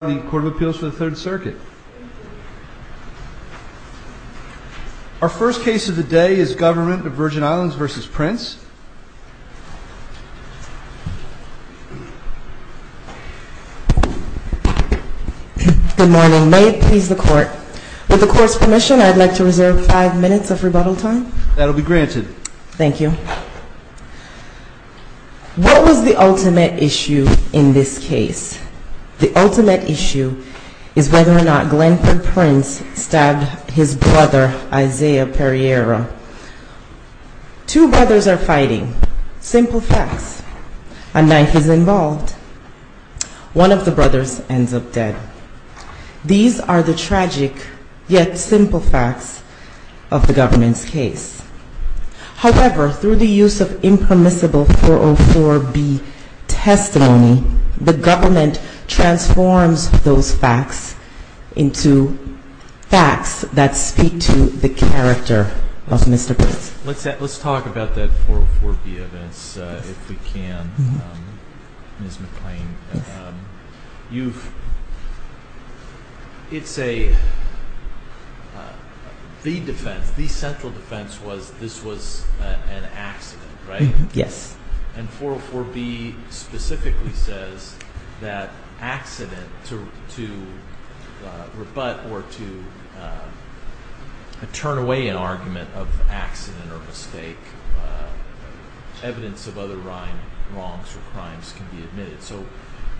Good morning. May it please the Court. With the Court's permission, I'd like to reserve five minutes of rebuttal time. That will be granted. Thank you. What was the ultimate issue in this case? The ultimate issue is whether or not Glenford Prince stabbed his brother, Isaiah Pereira. Two brothers are fighting. Simple facts. A knife is involved. One of the brothers ends up dead. These are the tragic, yet simple facts of the Government's case. However, through the use of impermissible 404B testimony, the Government transforms those facts into facts that speak to the character of Mr. Prince. Let's talk about that 404B defense, if we can, Ms. McClain. The defense, the central defense was this was an accident, right? Yes. And 404B specifically says that accident, to rebut or to turn away an argument of accident or mistake, evidence of other wrongs or crimes can be admitted. So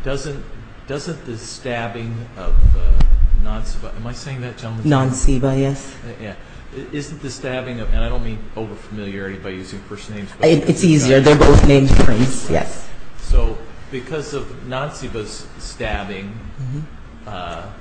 doesn't the stabbing of Nanciba, am I saying that gentleman's name right? Nanciba, yes. Isn't the stabbing of, and I don't mean over-familiarity by using first names. It's easier, they're both named Prince, yes. So because of Nanciba's stabbing, a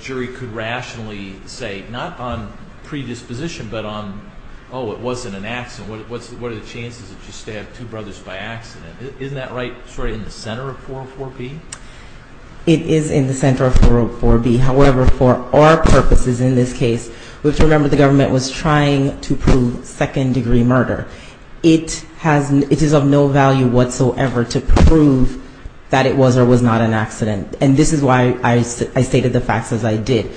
jury could rationally say, not on predisposition, but on, oh, it wasn't an accident. What are the chances that you stabbed two brothers by accident? Isn't that right, sort of in the center of 404B? It is in the center of 404B. However, for our purposes in this case, we have to remember the Government was trying to prove second-degree murder. It is of no value whatsoever to prove that it was or was not an accident. And this is why I stated the facts as I did.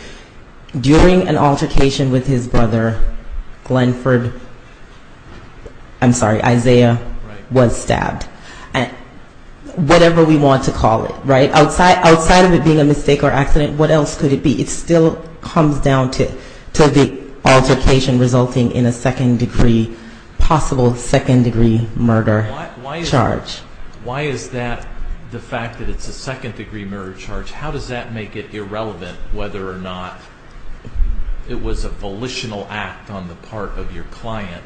During an altercation with his brother, Glenford, I'm sorry, Isaiah was stabbed. Whatever we want to call it, right? Outside of it being a mistake or accident, what else could it be? It still comes down to the altercation resulting in a second-degree, possible second-degree murder charge. Why is that the fact that it's a second-degree murder charge? How does that make it irrelevant whether or not it was a volitional act on the part of your client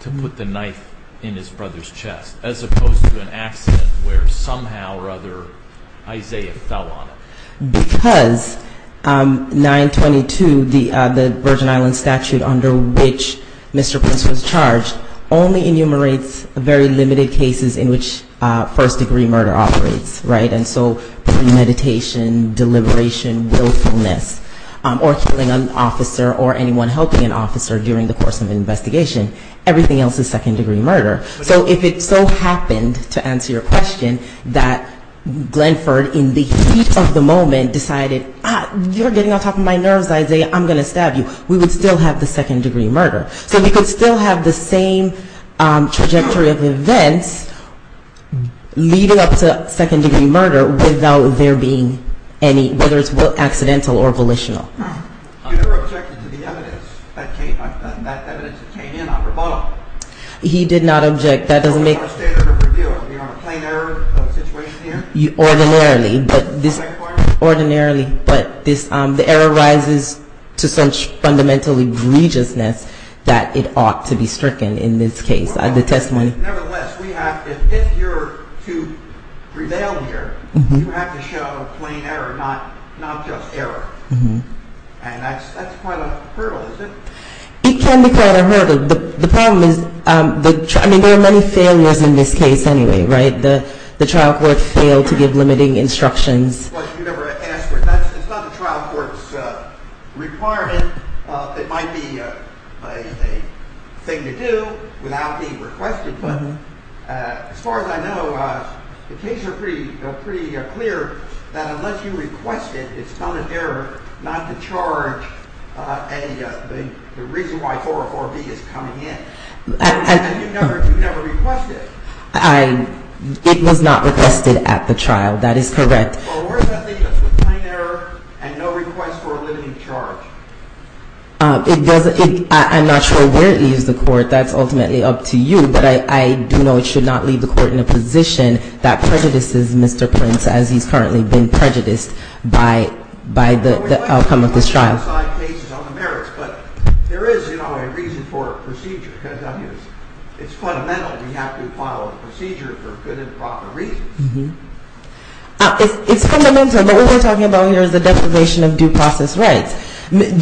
to put the knife in his brother's chest, as opposed to an accident where somehow or other Isaiah fell on it? Because 922, the Virgin Islands statute under which Mr. Prince was charged, only enumerates very limited cases in which first-degree murder operates, right? And so premeditation, deliberation, willfulness, or killing an officer or anyone helping an officer during the course of an investigation, everything else is second-degree murder. So if it so happened, to answer your question, that Glenford in the heat of the moment decided, you're getting on top of my nerves, Isaiah, I'm going to stab you, we would still have the second-degree murder. So we could still have the same trajectory of events leading up to any, whether it's accidental or volitional. You never objected to the evidence that came in on rebuttal. He did not object. That's not a standard of review. You have a plain error of a situation here? Ordinarily, but the error rises to such fundamental egregiousness that it ought to be stricken in this case, the testimony. Nevertheless, if you're to prevail here, you have to show plain error, not just error. And that's quite a hurdle, isn't it? It can be quite a hurdle. The problem is, I mean, there are many failures in this case anyway, right? The trial court failed to give limiting instructions. It's not the trial court's requirement. It might be a thing to do without being requested. But as far as I know, the cases are pretty clear that unless you request it, it's not an error not to charge the reason why 404B is coming in. And you never requested it. It was not requested at the trial. That is correct. Well, where does that leave us with plain error and no request for a limiting charge? I'm not sure where it leaves the court. That's ultimately up to you. But I do know it should not leave the court in a position that prejudices Mr. Prince, as he's currently been prejudiced by the outcome of this trial. Well, we might have one-side cases on the merits. But there is, you know, a reason for a procedure, because it's fundamental. We have to file a procedure for good and proper reasons. It's fundamental. What we're talking about here is the defamation of due process rights.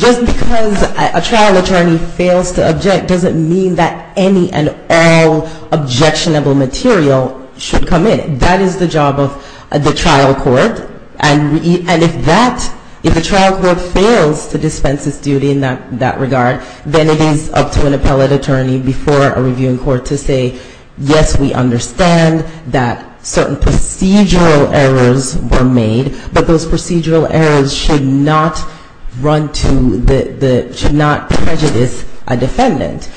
Just because a trial attorney fails to object doesn't mean that any and all objectionable material should come in. That is the job of the trial court. And if that, if the trial court fails to dispense its duty in that regard, then it is up to an appellate attorney before a reviewing court to say, yes, we understand that certain procedural errors were made, but those procedural errors should not run to the, should not prejudice a defendant.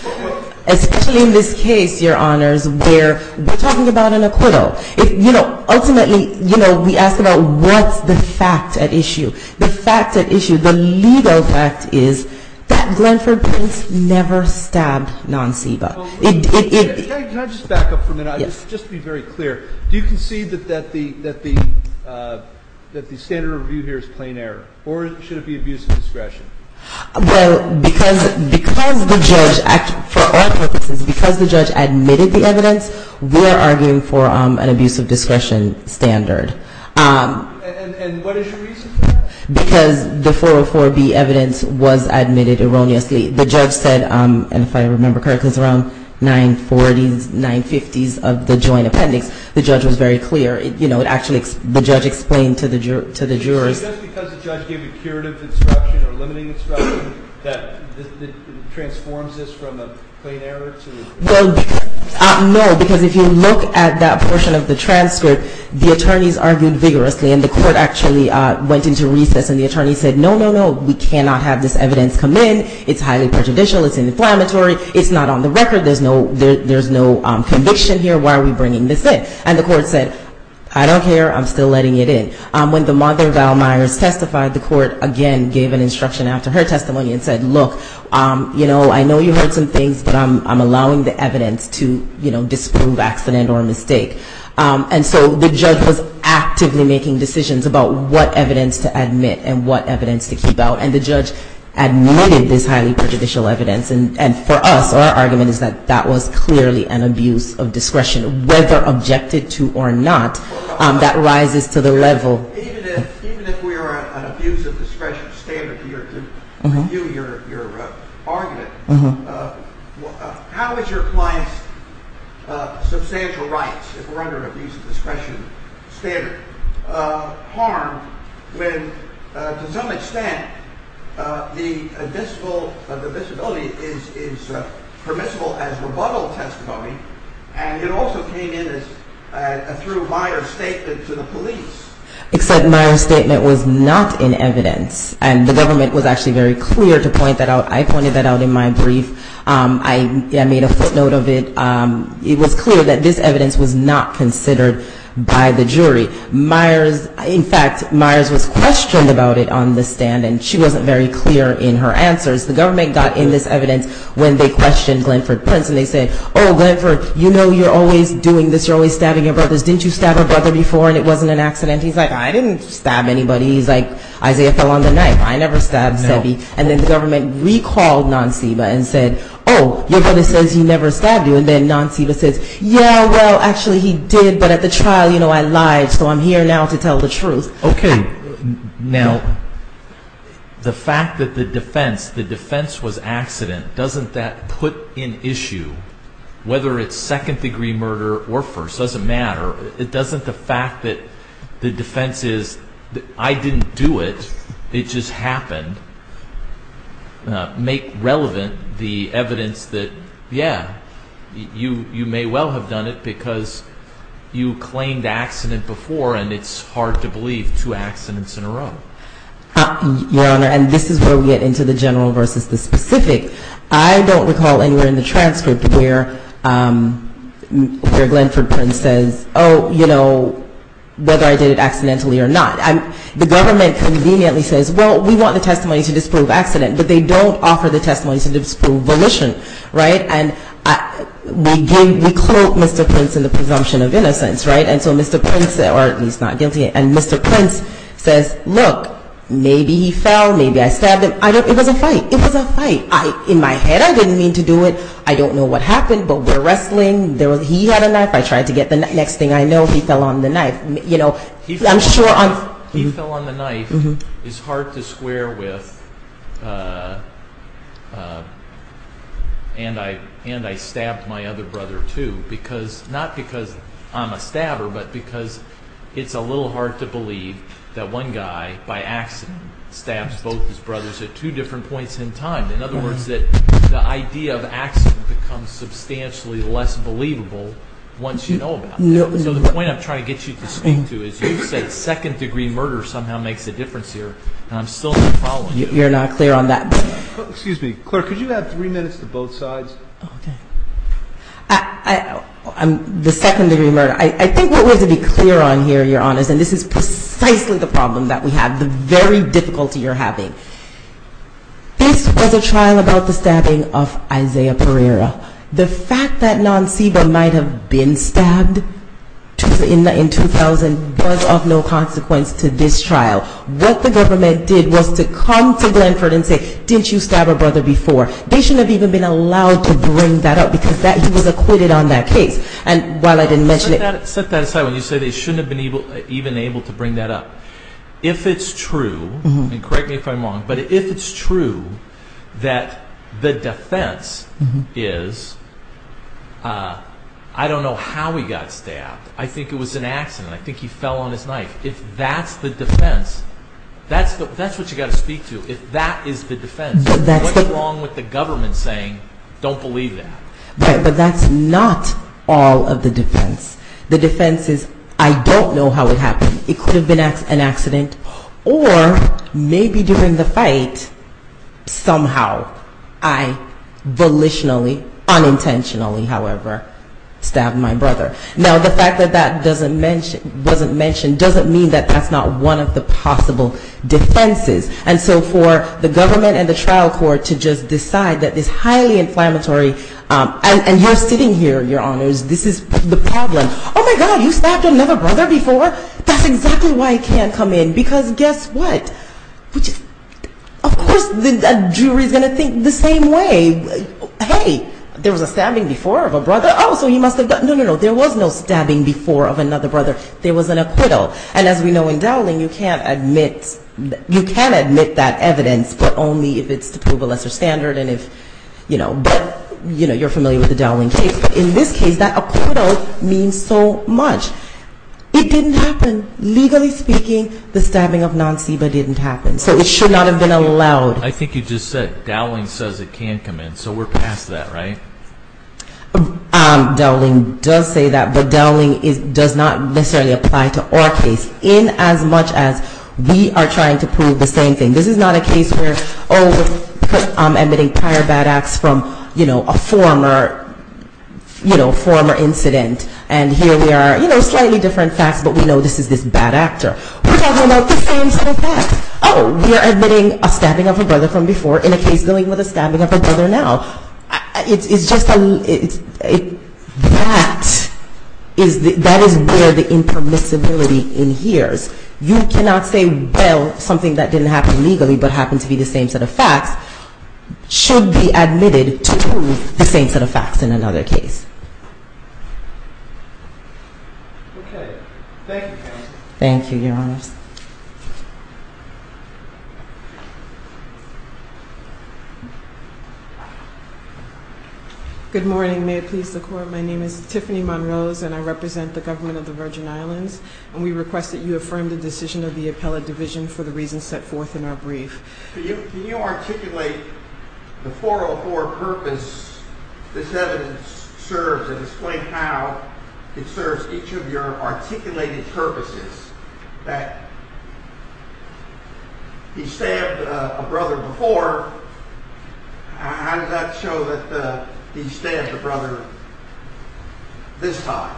Especially in this case, Your Honors, where we're talking about an acquittal. If, you know, ultimately, you know, we ask about what's the fact at issue. The fact at issue, the legal fact is that Glenford Prince never stabbed Nanceeba. Can I just back up for a minute? Yes. Just to be very clear. Do you concede that the standard review here is plain error? Or should it be abuse of discretion? Well, because the judge, for our purposes, because the judge admitted the evidence, we are arguing for an abuse of discretion standard. And what is your reason for that? Because the 404B evidence was admitted erroneously. The judge said, and if I remember correctly, it was around 940s, 950s of the joint appendix. The judge was very clear. You know, it actually, the judge explained to the jurors. So just because the judge gave a curative instruction or limiting instruction, that it transforms this from a plain error to an abuse of discretion? Well, no, because if you look at that portion of the transcript, the attorneys argued vigorously. And the court actually went into recess, and the attorneys said, no, no, no. We cannot have this evidence come in. It's highly prejudicial. It's inflammatory. It's not on the record. There's no conviction here. Why are we bringing this in? And the court said, I don't care. I'm still letting it in. When the mother, Val Myers, testified, the court again gave an instruction after her testimony and said, look, you know, I know you heard some things, but I'm allowing the evidence to, you know, disprove accident or mistake. And so the judge was actively making decisions about what evidence to admit and what evidence to keep out. And the judge admitted this highly prejudicial evidence. And for us, our argument is that that was clearly an abuse of discretion, whether objected to or not. That rises to the level. Even if we are at an abuse of discretion standard here to review your argument, how is your client's substantial rights, if we're under an abuse of discretion standard, harmed when, to some extent, the disability is permissible as rebuttal testimony, and it also came in through a Myers statement to the police. Except Myers' statement was not in evidence. And the government was actually very clear to point that out. I pointed that out in my brief. I made a footnote of it. It was clear that this evidence was not considered by the jury. In fact, Myers was questioned about it on the stand, and she wasn't very clear in her answers. The government got in this evidence when they questioned Glenford Prince, and they said, oh, Glenford, you know you're always doing this, you're always stabbing your brothers. Didn't you stab a brother before, and it wasn't an accident? He's like, I didn't stab anybody. He's like, Isaiah fell on the knife. I never stabbed Sebi. And then the government recalled Non-Seba and said, oh, your brother says he never stabbed you, and then Non-Seba says, yeah, well, actually he did, but at the trial, you know, I lied, so I'm here now to tell the truth. Okay. Now, the fact that the defense, the defense was accident, doesn't that put in issue, whether it's second-degree murder or first, doesn't matter. It doesn't, the fact that the defense is, I didn't do it, it just happened, make relevant the evidence that, yeah, you may well have done it because you claimed accident before, and it's hard to believe two accidents in a row. Your Honor, and this is where we get into the general versus the specific. I don't recall anywhere in the transcript where Glenford Prince says, oh, you know, whether I did it accidentally or not. The government conveniently says, well, we want the testimony to disprove accident, but they don't offer the testimony to disprove volition, right? And we quote Mr. Prince in the presumption of innocence, right? And so Mr. Prince, or he's not guilty, and Mr. Prince says, look, maybe he fell, maybe I stabbed him. It was a fight. It was a fight. In my head, I didn't mean to do it. I don't know what happened, but we're wrestling. He had a knife. I tried to get the next thing I know. He fell on the knife. You know, I'm sure on. He fell on the knife. It's hard to square with, and I stabbed my other brother, too, because, not because I'm a stabber, but because it's a little hard to believe that one guy, by accident, stabs both his brothers at two different points in time. In other words, the idea of accident becomes substantially less believable once you know about it. So the point I'm trying to get you to speak to is you said second-degree murder somehow makes a difference here, and I'm still not following you. You're not clear on that. Excuse me. Claire, could you have three minutes to both sides? Okay. The second-degree murder. I think what we have to be clear on here, Your Honors, and this is precisely the problem that we have, the very difficulty you're having. This was a trial about the stabbing of Isaiah Pereira. The fact that Nanciba might have been stabbed in 2000 was of no consequence to this trial. What the government did was to come to Glenford and say, didn't you stab her brother before? They shouldn't have even been allowed to bring that up because he was acquitted on that case. Set that aside when you say they shouldn't have even been able to bring that up. If it's true, and correct me if I'm wrong, but if it's true that the defense is, I don't know how he got stabbed. I think it was an accident. I think he fell on his knife. If that's the defense, that's what you've got to speak to. If that is the defense, what's wrong with the government saying, don't believe that? But that's not all of the defense. The defense is, I don't know how it happened. It could have been an accident, or maybe during the fight, somehow, I volitionally, unintentionally, however, stabbed my brother. Now, the fact that that wasn't mentioned doesn't mean that that's not one of the possible defenses. And so for the government and the trial court to just decide that this highly inflammatory, and you're sitting here, your honors, this is the problem. Oh, my God, you stabbed another brother before? That's exactly why he can't come in, because guess what? Of course the jury is going to think the same way. Hey, there was a stabbing before of a brother. Oh, so he must have got, no, no, no, there was no stabbing before of another brother. There was an acquittal. And as we know in Dowling, you can't admit, you can admit that evidence, but only if it's to prove a lesser standard and if, you know, you're familiar with the Dowling case. But in this case, that acquittal means so much. It didn't happen. Legally speaking, the stabbing of non-CEBA didn't happen. So it should not have been allowed. I think you just said Dowling says it can't come in. So we're past that, right? Dowling does say that, but Dowling does not necessarily apply to our case in as much as we are trying to prove the same thing. This is not a case where, oh, I'm admitting prior bad acts from, you know, a former, you know, former incident, and here we are, you know, slightly different facts, but we know this is this bad actor. We're talking about the same sort of facts. Oh, we're admitting a stabbing of a brother from before in a case dealing with a stabbing of a brother now. It's just, I mean, that is where the impermissibility adheres. You cannot say, well, something that didn't happen legally, but happened to be the same set of facts, should be admitted to prove the same set of facts in another case. Okay. Thank you, counsel. Good morning. May it please the Court, my name is Tiffany Monrose, and I represent the government of the Virgin Islands, and we request that you affirm the decision of the appellate division for the reasons set forth in our brief. Can you articulate the 404 purpose this evidence serves, and explain how it serves each of your articulated purposes, that he stabbed a brother before, how does that show that he stabbed a brother this time?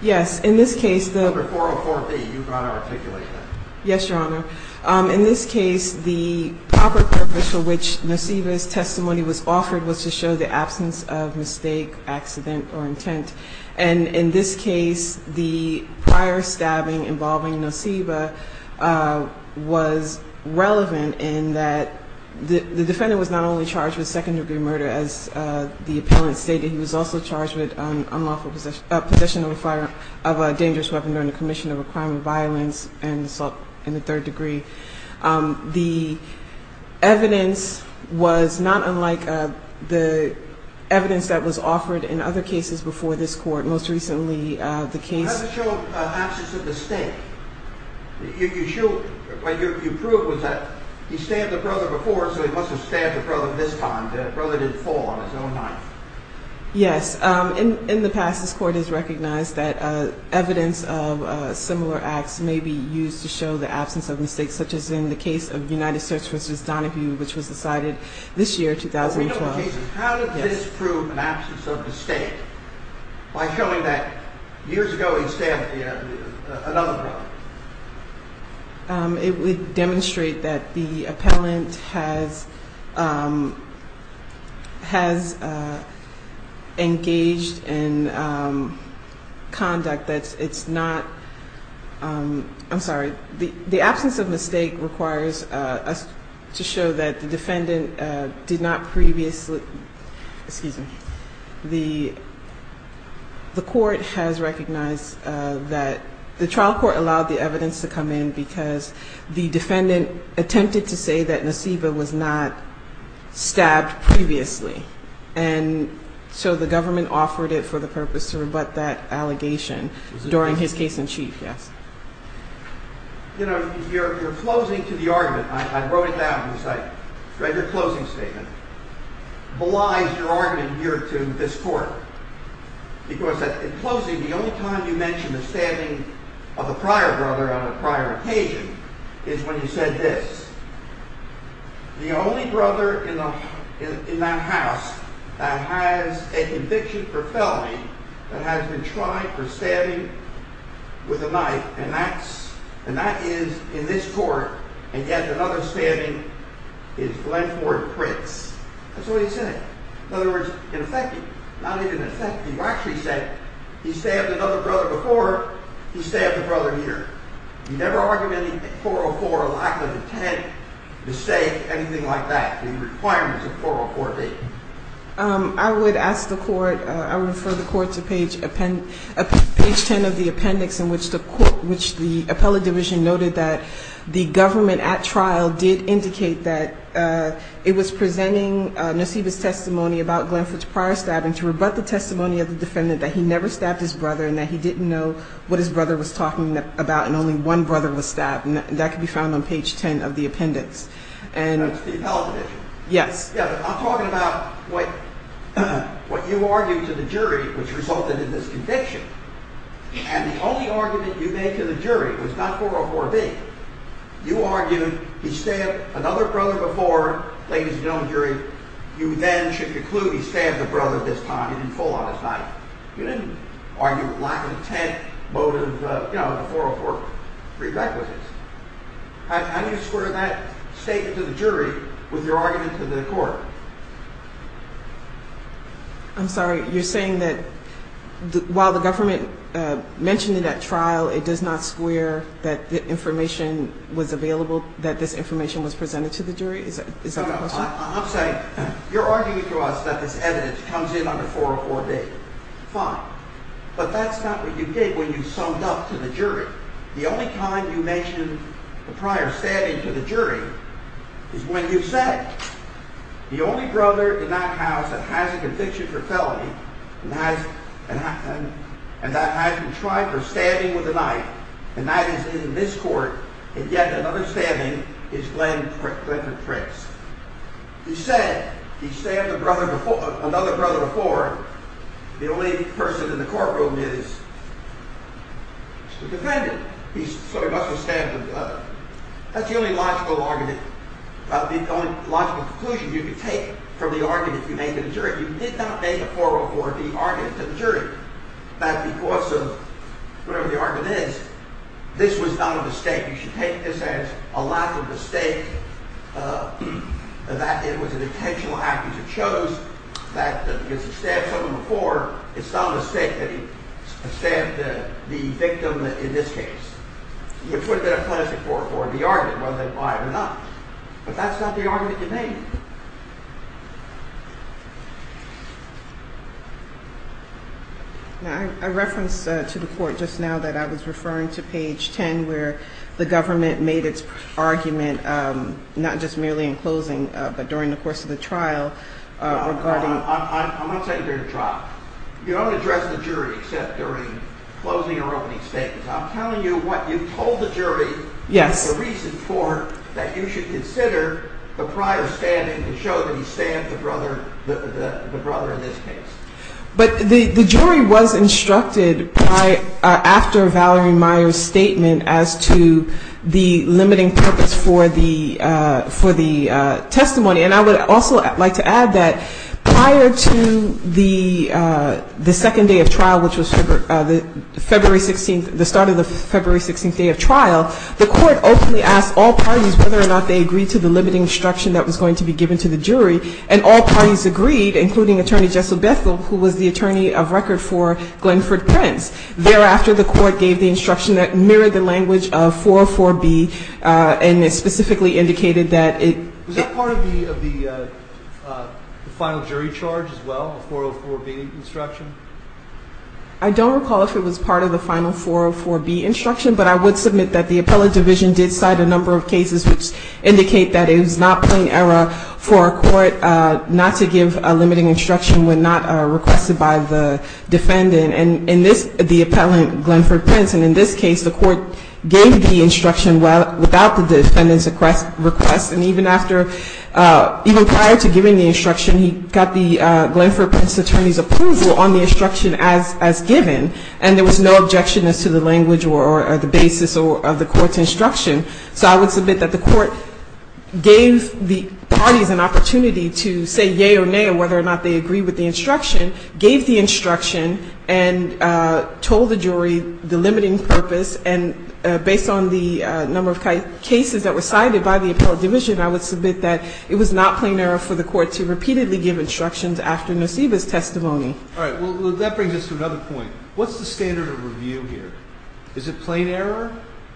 Yes, in this case the... Number 404B, you've got to articulate that. Yes, Your Honor. In this case, the proper purpose for which Noceva's testimony was offered was to show the absence of mistake, accident, or intent, and in this case, the prior stabbing involving Noceva was relevant in that the defendant was not only charged with second-degree murder as the appellant stated, he was also charged with unlawful possession of a dangerous weapon during the commission of a crime of violence and assault in the third degree. The evidence was not unlike the evidence that was offered in other cases before this Court. Most recently, the case... You proved that he stabbed a brother before, so he must have stabbed a brother this time, the brother didn't fall on his own knife. Yes, in the past this Court has recognized that evidence of similar acts may be used to show the absence of mistake, such as in the case of United Search V. Donahue, which was decided this year, 2012. How did this prove an absence of mistake, by showing that years ago he stabbed another brother? It would demonstrate that the appellant has engaged in conduct that's not... I'm sorry, the absence of mistake requires us to show that the defendant did not previously... Excuse me, the Court has recognized that... The trial court allowed the evidence to come in because the defendant attempted to say that Noceva was not stabbed previously, and so the government offered it for the purpose to rebut that allegation during his case-in-chief, yes. I wrote it down, because I read your closing statement, belies your argument here to this Court, because in closing, the only time you mentioned the stabbing of a prior brother on a prior occasion is when you said this, the only brother in that house that has a conviction for felony that has been tried for stabbing with a knife, and that is in this Court, and yet another stabbing is Glen Ford Prince. That's what you said. In other words, in effecting, not even effecting, you actually said he stabbed another brother before he stabbed a brother here. You never argued any 404 lack of intent, mistake, anything like that, in the requirements of 404-8. I would ask the Court, I would refer the Court to page 10 of the appendix in which the appellate division noted that the government at trial did indicate that it was presenting Noceva's testimony about Glen Ford's prior stabbing to rebut the testimony of the defendant that he never stabbed his brother and that he didn't know what his brother was talking about and only one brother was stabbed, and that can be found on page 10 of the appendix. That's the appellate division? Yes. I'm talking about what you argued to the jury which resulted in this conviction, and the only argument you made to the jury was not 404-B. You argued he stabbed another brother before, ladies and gentlemen of the jury, you then should conclude he stabbed a brother at this time, he didn't pull out his knife. You didn't argue lack of intent, motive, you know, the 404 prerequisites. How do you square that statement to the jury with your argument to the Court? I'm sorry, you're saying that while the government mentioned it at trial, it does not square that the information was available, that this information was presented to the jury? I'm saying you're arguing to us that this evidence comes in under 404-B. Fine. But that's not what you did when you summed up to the jury. The only time you mentioned the prior stabbing to the jury is when you said the only brother in that house that has a conviction for felony and that hasn't tried for stabbing with a knife, and that is in this Court, and yet another stabbing is Glenn Pritz. He said he stabbed another brother before. The only person in the courtroom is the defendant, so he must have stabbed another. That's the only logical argument, the only logical conclusion you could take from the argument you made to the jury. You did not make a 404-B argument to the jury that because of whatever the argument is, this was not a mistake. You should take this as a lack of mistake, that it was an intentional act as it shows, that because he stabbed someone before, it's not a mistake that he stabbed the victim in this case, which would have been a classic 404-B argument, whether they buy it or not. But that's not the argument you made. I referenced to the Court just now that I was referring to page 10 where the government made its argument, not just merely in closing, but during the course of the trial. I'm not saying during the trial. You don't address the jury except during closing or opening statements. I'm telling you what you told the jury is the reason for that you should consider the prior standing to show that he stabbed the brother in this case. But the jury was instructed after Valerie Meyer's statement as to the limiting purpose for the testimony. And I would also like to add that prior to the second day of trial, which was the February 16th, the start of the February 16th day of trial, the Court openly asked all parties whether or not they agreed to the limiting instruction that was going to be given to the jury, and all parties agreed, including Attorney Jessel Bethel, who was the attorney of record for Glenford Prince. Thereafter, the Court gave the instruction that mirrored the language of 404-B, and it specifically indicated that it... Was that part of the final jury charge as well, the 404-B instruction? I don't recall if it was part of the final 404-B instruction, but I would submit that the appellate division did cite a number of cases which indicate that it was not plain error for a court not to give a limiting instruction when not requested by the defendant. And in this, the appellant, Glenford Prince, and in this case, the Court gave the instruction without the defendant's request, and even after... Even prior to giving the instruction, he got the Glenford Prince attorney's approval on the instruction as given, and there was no objection as to the language or the basis of the Court's instruction. So I would submit that the Court gave the parties an opportunity to say yea or nay and whether or not they agree with the instruction, gave the instruction, and told the jury the limiting purpose. And based on the number of cases that were cited by the appellate division, I would submit that it was not plain error for the Court to repeatedly give instructions after Noceva's testimony. All right. Well, that brings us to another point. What's the standard of review here? Is it plain error,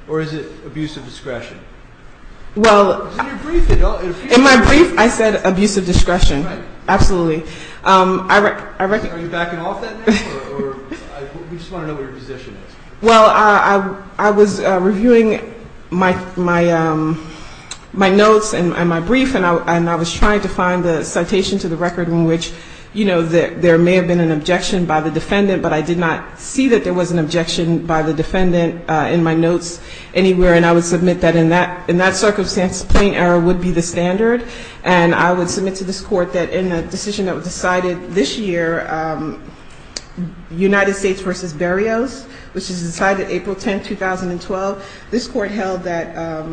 or is it abuse of discretion? Well, in my brief, I said abuse of discretion. Absolutely. Are you backing off that now, or do you just want to know what your position is? Well, I was reviewing my notes and my brief, and I was trying to find the citation to the record in which, you know, there may have been an objection by the defendant, but I did not see that there was an objection by the defendant in my notes anywhere, and I would submit that in that circumstance, plain error would be the standard. And I would submit to this Court that in the decision that was decided this year, United States v. Berrios, which was decided April 10, 2012, this Court held that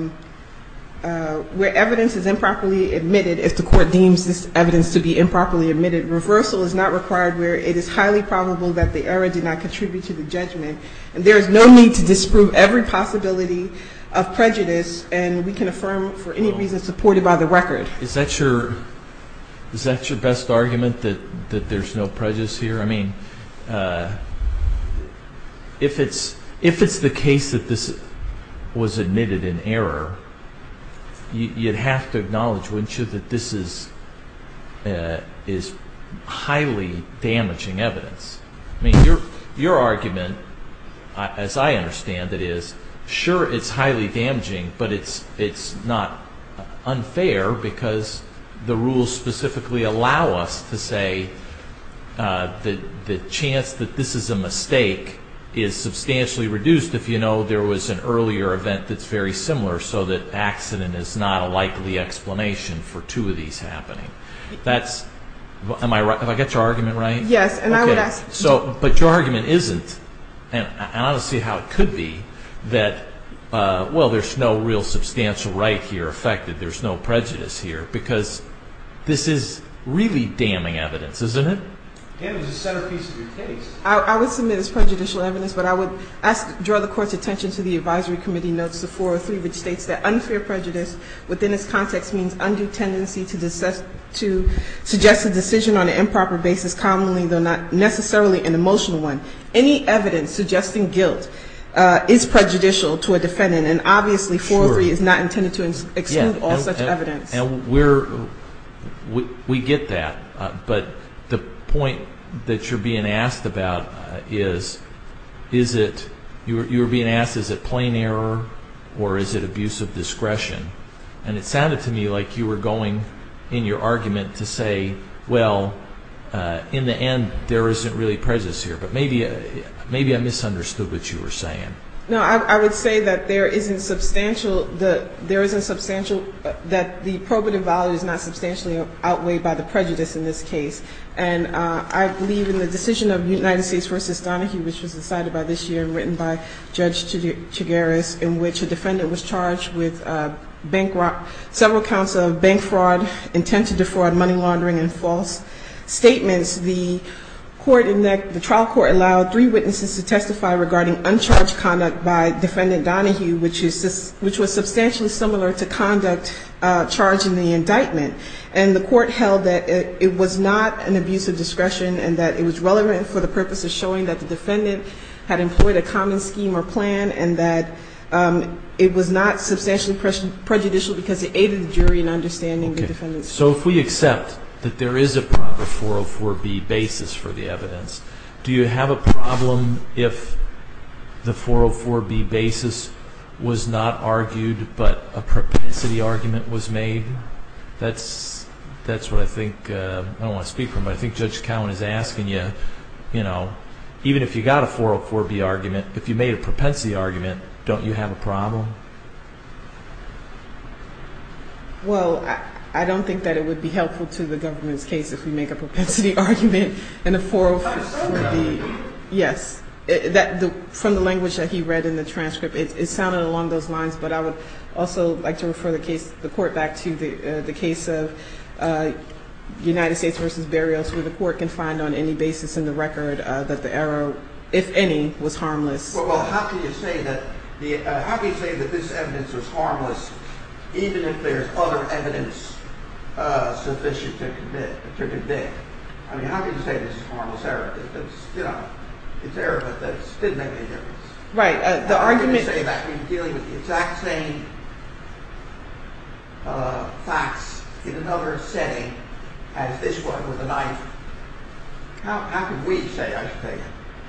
where evidence is improperly admitted, if the Court deems this evidence to be improperly admitted, reversal is not required where it is highly probable that the error did not contribute to the judgment. And there is no need to disprove every possibility of prejudice, and we can affirm for any reason supported by the record. Is that your best argument, that there's no prejudice here? I mean, if it's the case that this was admitted in error, you'd have to acknowledge, wouldn't you, that this is highly damaging evidence. I mean, your argument, as I understand it, is sure it's highly damaging, but it's not unfair because the rules specifically allow us to say the chance that this is a mistake is substantially reduced if you know there was an earlier event that's very similar, so that accident is not a likely explanation for two of these happening. Am I right? Have I got your argument right? Yes, and I would ask you to. But your argument isn't, and I want to see how it could be, that, well, there's no real substantial right here affected, there's no prejudice here, because this is really damning evidence, isn't it? And it's the centerpiece of your case. I would submit it's prejudicial evidence, but I would draw the Court's attention to the advisory committee notes, the 403, which states that unfair prejudice within its context means undue tendency to suggest a decision on an improper basis, commonly though not necessarily an emotional one. Any evidence suggesting guilt is prejudicial to a defendant, and obviously 403 is not intended to exclude all such evidence. We get that, but the point that you're being asked about is, you were being asked is it plain error or is it abuse of discretion, and it sounded to me like you were going in your argument to say, well, in the end there isn't really prejudice here, but maybe I misunderstood what you were saying. No, I would say that there isn't substantial, that the probative value is not substantially outweighed by the prejudice in this case. And I believe in the decision of United States v. Donahue, which was decided by this year and written by Judge Chigueras, in which a defendant was charged with several counts of bank fraud, intent to defraud, money laundering, and false statements. The trial court allowed three witnesses to testify regarding uncharged conduct by Defendant Donahue, which was substantially similar to conduct charged in the indictment. And the court held that it was not an abuse of discretion and that it was relevant for the purpose of showing that the defendant had employed a common scheme or plan and that it was not substantially prejudicial because it aided the jury in understanding the defendant's case. So if we accept that there is a proper 404B basis for the evidence, do you have a problem if the 404B basis was not argued but a propensity argument was made? That's what I think, I don't want to speak for him, but I think Judge Cowen is asking you, you know, even if you got a 404B argument, if you made a propensity argument, don't you have a problem? Well, I don't think that it would be helpful to the government's case if we make a propensity argument in a 404B. Yes, from the language that he read in the transcript, it sounded along those lines, but I would also like to refer the court back to the case of United States v. Berrios where the court can find on any basis in the record that the error, if any, was harmless. Well, how can you say that this evidence was harmless, even if there is other evidence sufficient to convict? I mean, how can you say this is a harmless error? It's error, but it didn't make any difference. How can you say that when you're dealing with the exact same facts in another setting as this one with a knife? How can we say, I should say,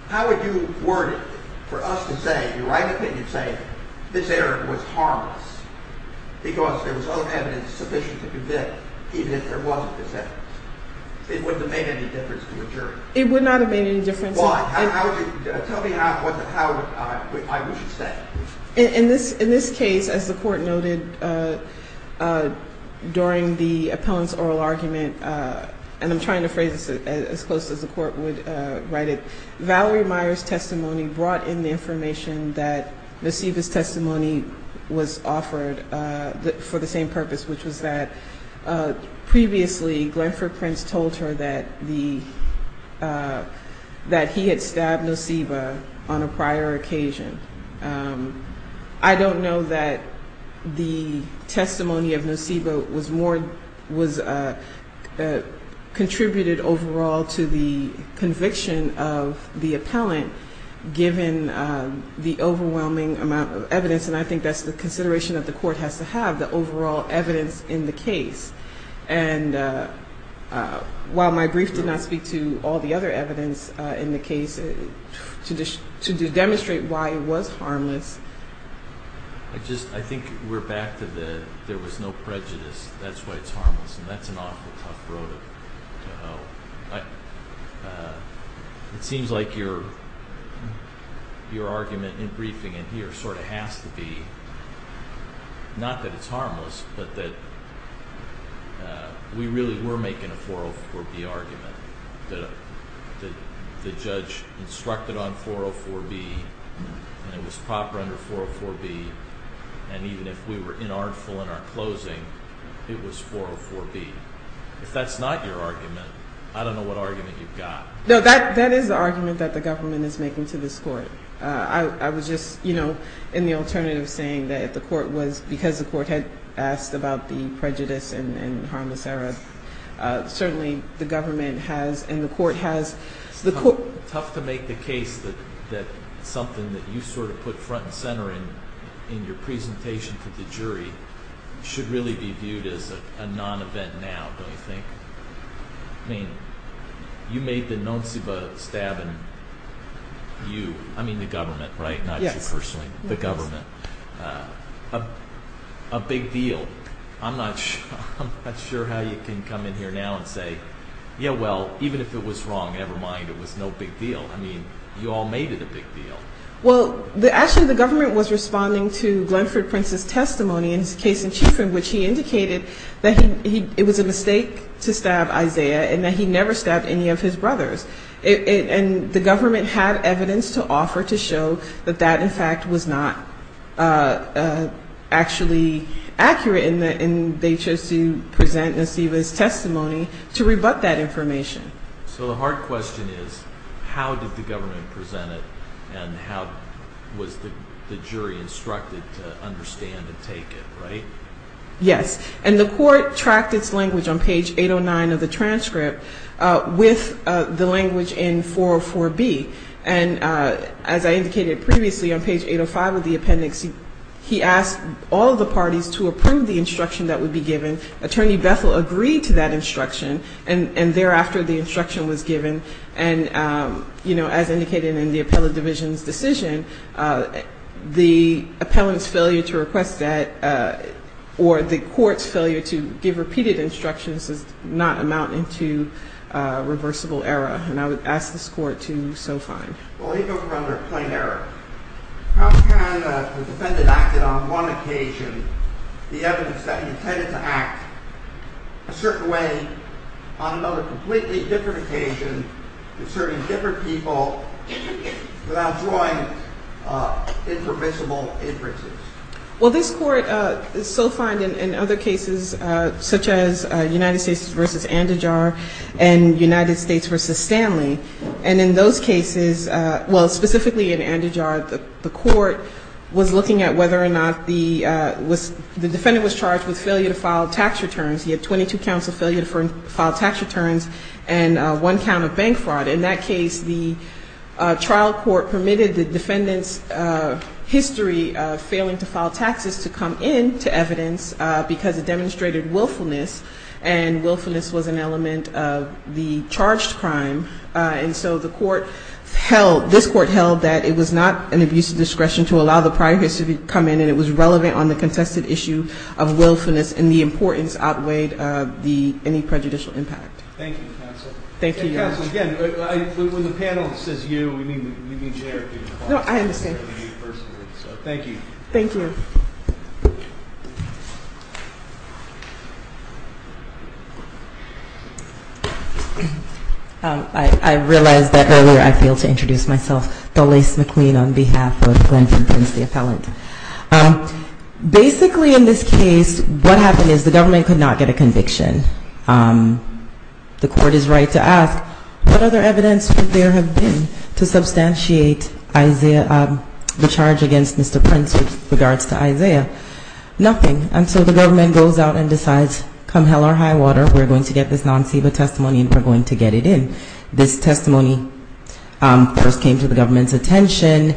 how would you word it for us to say, in your right opinion, say this error was harmless because there was other evidence sufficient to convict, even if there wasn't this evidence? It wouldn't have made any difference to a jury. It would not have made any difference. Why? Tell me how I would say it. In this case, as the court noted during the appellant's oral argument, and I'm trying to phrase this as close as the court would write it, Valerie Meyer's testimony brought in the information that Noceva's testimony was offered for the same purpose, which was that previously, Glenford Prince told her that he had stabbed Noceva on a prior occasion. I don't know that the testimony of Noceva contributed overall to the conviction of the appellant, given the overwhelming amount of evidence, and I think that's the consideration that the court has to have, the overall evidence in the case. And while my brief did not speak to all the other evidence in the case, to demonstrate why it was harmless. I think we're back to the there was no prejudice, that's why it's harmless, and that's an awful tough road to hoe. It seems like your argument in briefing in here sort of has to be, not that it's harmless, but that we really were making a 404B argument, that the judge instructed on 404B, and it was proper under 404B, and even if we were inartful in our closing, it was 404B. If that's not your argument, I don't know what argument you've got. No, that is the argument that the government is making to this court. I was just, you know, in the alternative saying that if the court was, because the court had asked about the prejudice and harmless error, certainly the government has and the court has. It's tough to make the case that something that you sort of put front and center in, in your presentation to the jury, should really be viewed as a non-event now, don't you think? I mean, you made the non-ceiba stab in you, I mean the government, right? Yes. Not you personally, the government. A big deal. I'm not sure how you can come in here now and say, yeah, well, even if it was wrong, never mind, it was no big deal. I mean, you all made it a big deal. Well, actually the government was responding to Glenford Prince's testimony in his case in chief in which he indicated that it was a mistake to stab Isaiah and that he never stabbed any of his brothers. And the government had evidence to offer to show that that, in fact, was not actually accurate and they chose to present Naciba's testimony to rebut that information. So the hard question is, how did the government present it and how was the jury instructed to understand and take it, right? Yes, and the court tracked its language on page 809 of the transcript with the language in 404B. And as I indicated previously on page 805 of the appendix, he asked all of the parties to approve the instruction that would be given. Attorney Bethel agreed to that instruction and thereafter the instruction was given. And, you know, as indicated in the appellate division's decision, the appellant's failure to request that or the court's failure to give repeated instructions does not amount into reversible error. And I would ask this court to so find. Well, if it were under plain error, how can the defendant act on one occasion the evidence that he intended to act a certain way on another completely different occasion serving different people without drawing impermissible inferences? Well, this court so find in other cases such as United States v. Andijar and United States v. Stanley. And in those cases, well, specifically in Andijar, the court was looking at whether or not the defendant was charged with failure to file tax returns. He had 22 counts of failure to file tax returns and one count of bank fraud. In that case, the trial court permitted the defendant's history of failing to file taxes to come in to evidence because it demonstrated willfulness and willfulness was an element of the charged crime. And so the court held, this court held that it was not an abuse of discretion to allow the prior history to come in and it was relevant on the contested issue of willfulness and the importance outweighed any prejudicial impact. Thank you, counsel. Counsel, again, when the panel says you, we mean you. No, I understand. Thank you. Thank you. I realize that earlier I failed to introduce myself. Dolais McQueen on behalf of Glenton Prince, the appellant. Basically in this case, what happened is the government could not get a conviction. The court is right to ask, what other evidence would there have been to substantiate the charge against Mr. Prince with regards to Isaiah? Nothing. And so the government goes out and decides, come hell or high water, we're going to get this non-CEBA testimony and we're going to get it in. This testimony first came to the government's attention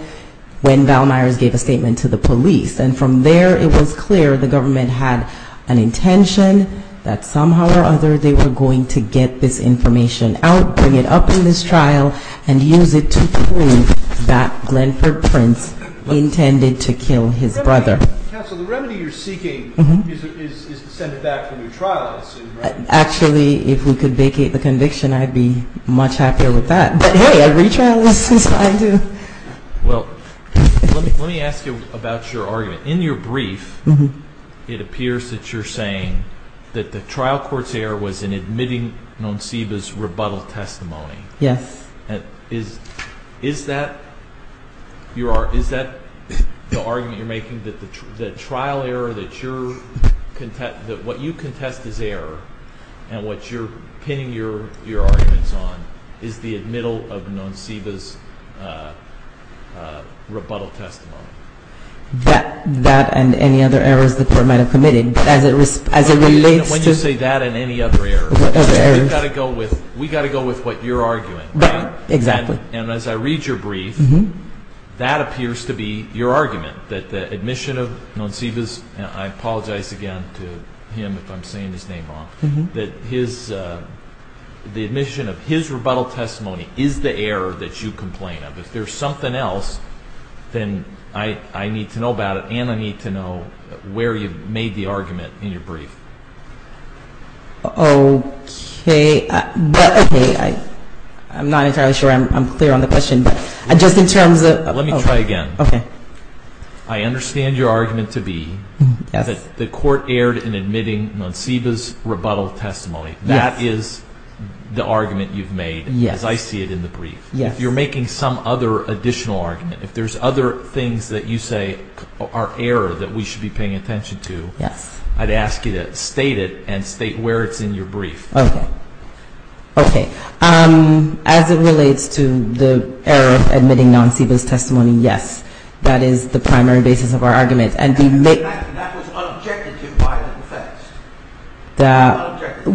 when Val Myers gave a statement to the police. And from there it was clear the government had an intention that somehow or other they were going to get this information out, bring it up in this trial, and use it to prove that Glenford Prince intended to kill his brother. Counsel, the remedy you're seeking is to send it back for new trials. Actually, if we could vacate the conviction, I'd be much happier with that. But hey, a retrial is fine too. Well, let me ask you about your argument. In your brief, it appears that you're saying that the trial court's error was in admitting non-CEBA's rebuttal testimony. Yes. And is that the argument you're making, that the trial error that you're contesting, that what you contest is error, and what you're pinning your arguments on is the admittal of non-CEBA's rebuttal testimony? That and any other errors the court might have committed. When you say that and any other errors, we've got to go with what you're arguing. And as I read your brief, that appears to be your argument, that the admission of non-CEBA's, and I apologize again to him if I'm saying his name wrong, that the admission of his rebuttal testimony is the error that you complain of. If there's something else, then I need to know about it, and I need to know where you've made the argument in your brief. Okay. I'm not entirely sure I'm clear on the question. Let me try again. I understand your argument to be that the court erred in admitting non-CEBA's rebuttal testimony. That is the argument you've made, as I see it in the brief. If you're making some other additional argument, if there's other things that you say are error that we should be paying attention to, I'd ask you to state it and state where it's in your brief. Okay. As it relates to the error of admitting non-CEBA's testimony, yes. That is the primary basis of our argument. That was unobjective by the defense. Yes.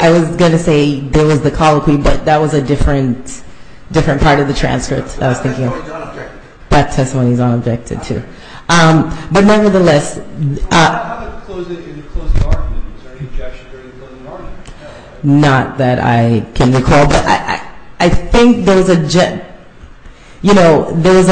I was going to say there was the colloquy, but that was a different part of the transcript. That testimony is unobjective, too. But nevertheless. Not that I can recall. But I think there was a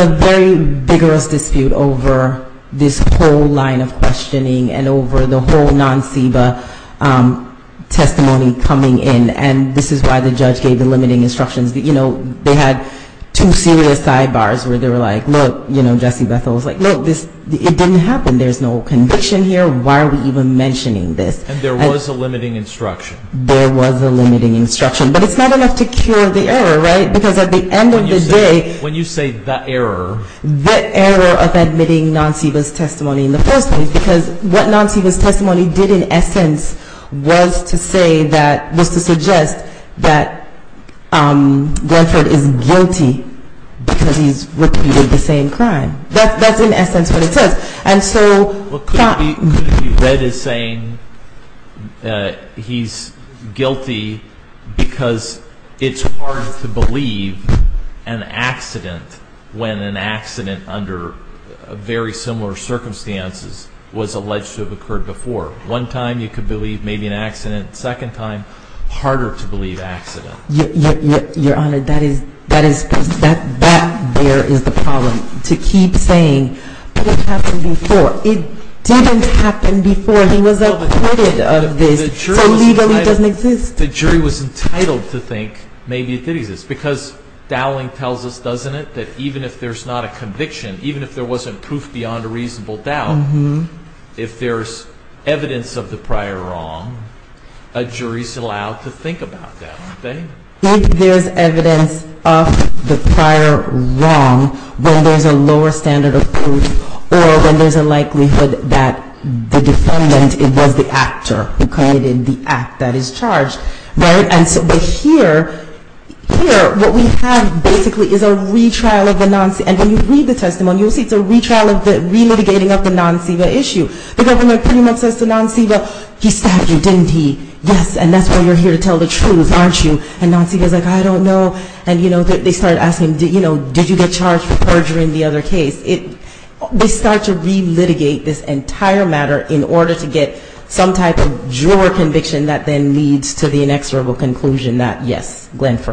very vigorous dispute over this whole line of questioning and over the whole non-CEBA testimony coming in, and this is why the judge gave the limiting instructions. You know, they had two serious sidebars where they were like, look, you know, Jesse Bethel was like, look, it didn't happen. There's no conviction here. Why are we even mentioning this? And there was a limiting instruction. There was a limiting instruction. But it's not enough to cure the error, right? Because at the end of the day. When you say the error. The error of admitting non-CEBA's testimony in the first place, because what non-CEBA's testimony did in essence was to say that, you know, that Glenford is guilty because he's repeated the same crime. That's in essence what it says. And so. Could it be that he's saying he's guilty because it's hard to believe an accident when an accident under very similar circumstances was alleged to have occurred before. One time you could believe maybe an accident. Second time, harder to believe accident. Your Honor, that there is the problem. To keep saying it happened before. It didn't happen before. The jury was entitled to think maybe it did exist. Because Dowling tells us, doesn't it, that even if there's not a conviction. Even if there wasn't proof beyond a reasonable doubt. If there's evidence of the prior wrong. A jury is allowed to think about that. If there's evidence of the prior wrong. When there's a lower standard of proof. Or when there's a likelihood that the defendant was the actor who committed the act that is charged. But here, what we have basically is a retrial of the non-CEBA. And when you read the testimony, you'll see it's a retrial of the re-litigating of the non-CEBA issue. The government pretty much says to non-CEBA, he stabbed you, didn't he? Yes, and that's why you're here to tell the truth, aren't you? And non-CEBA is like, I don't know. And they start asking, did you get charged for perjury in the other case? They start to re-litigate this entire matter in order to get some type of juror conviction that then leads to the inexorable conclusion that yes, I did get charged. Thank you.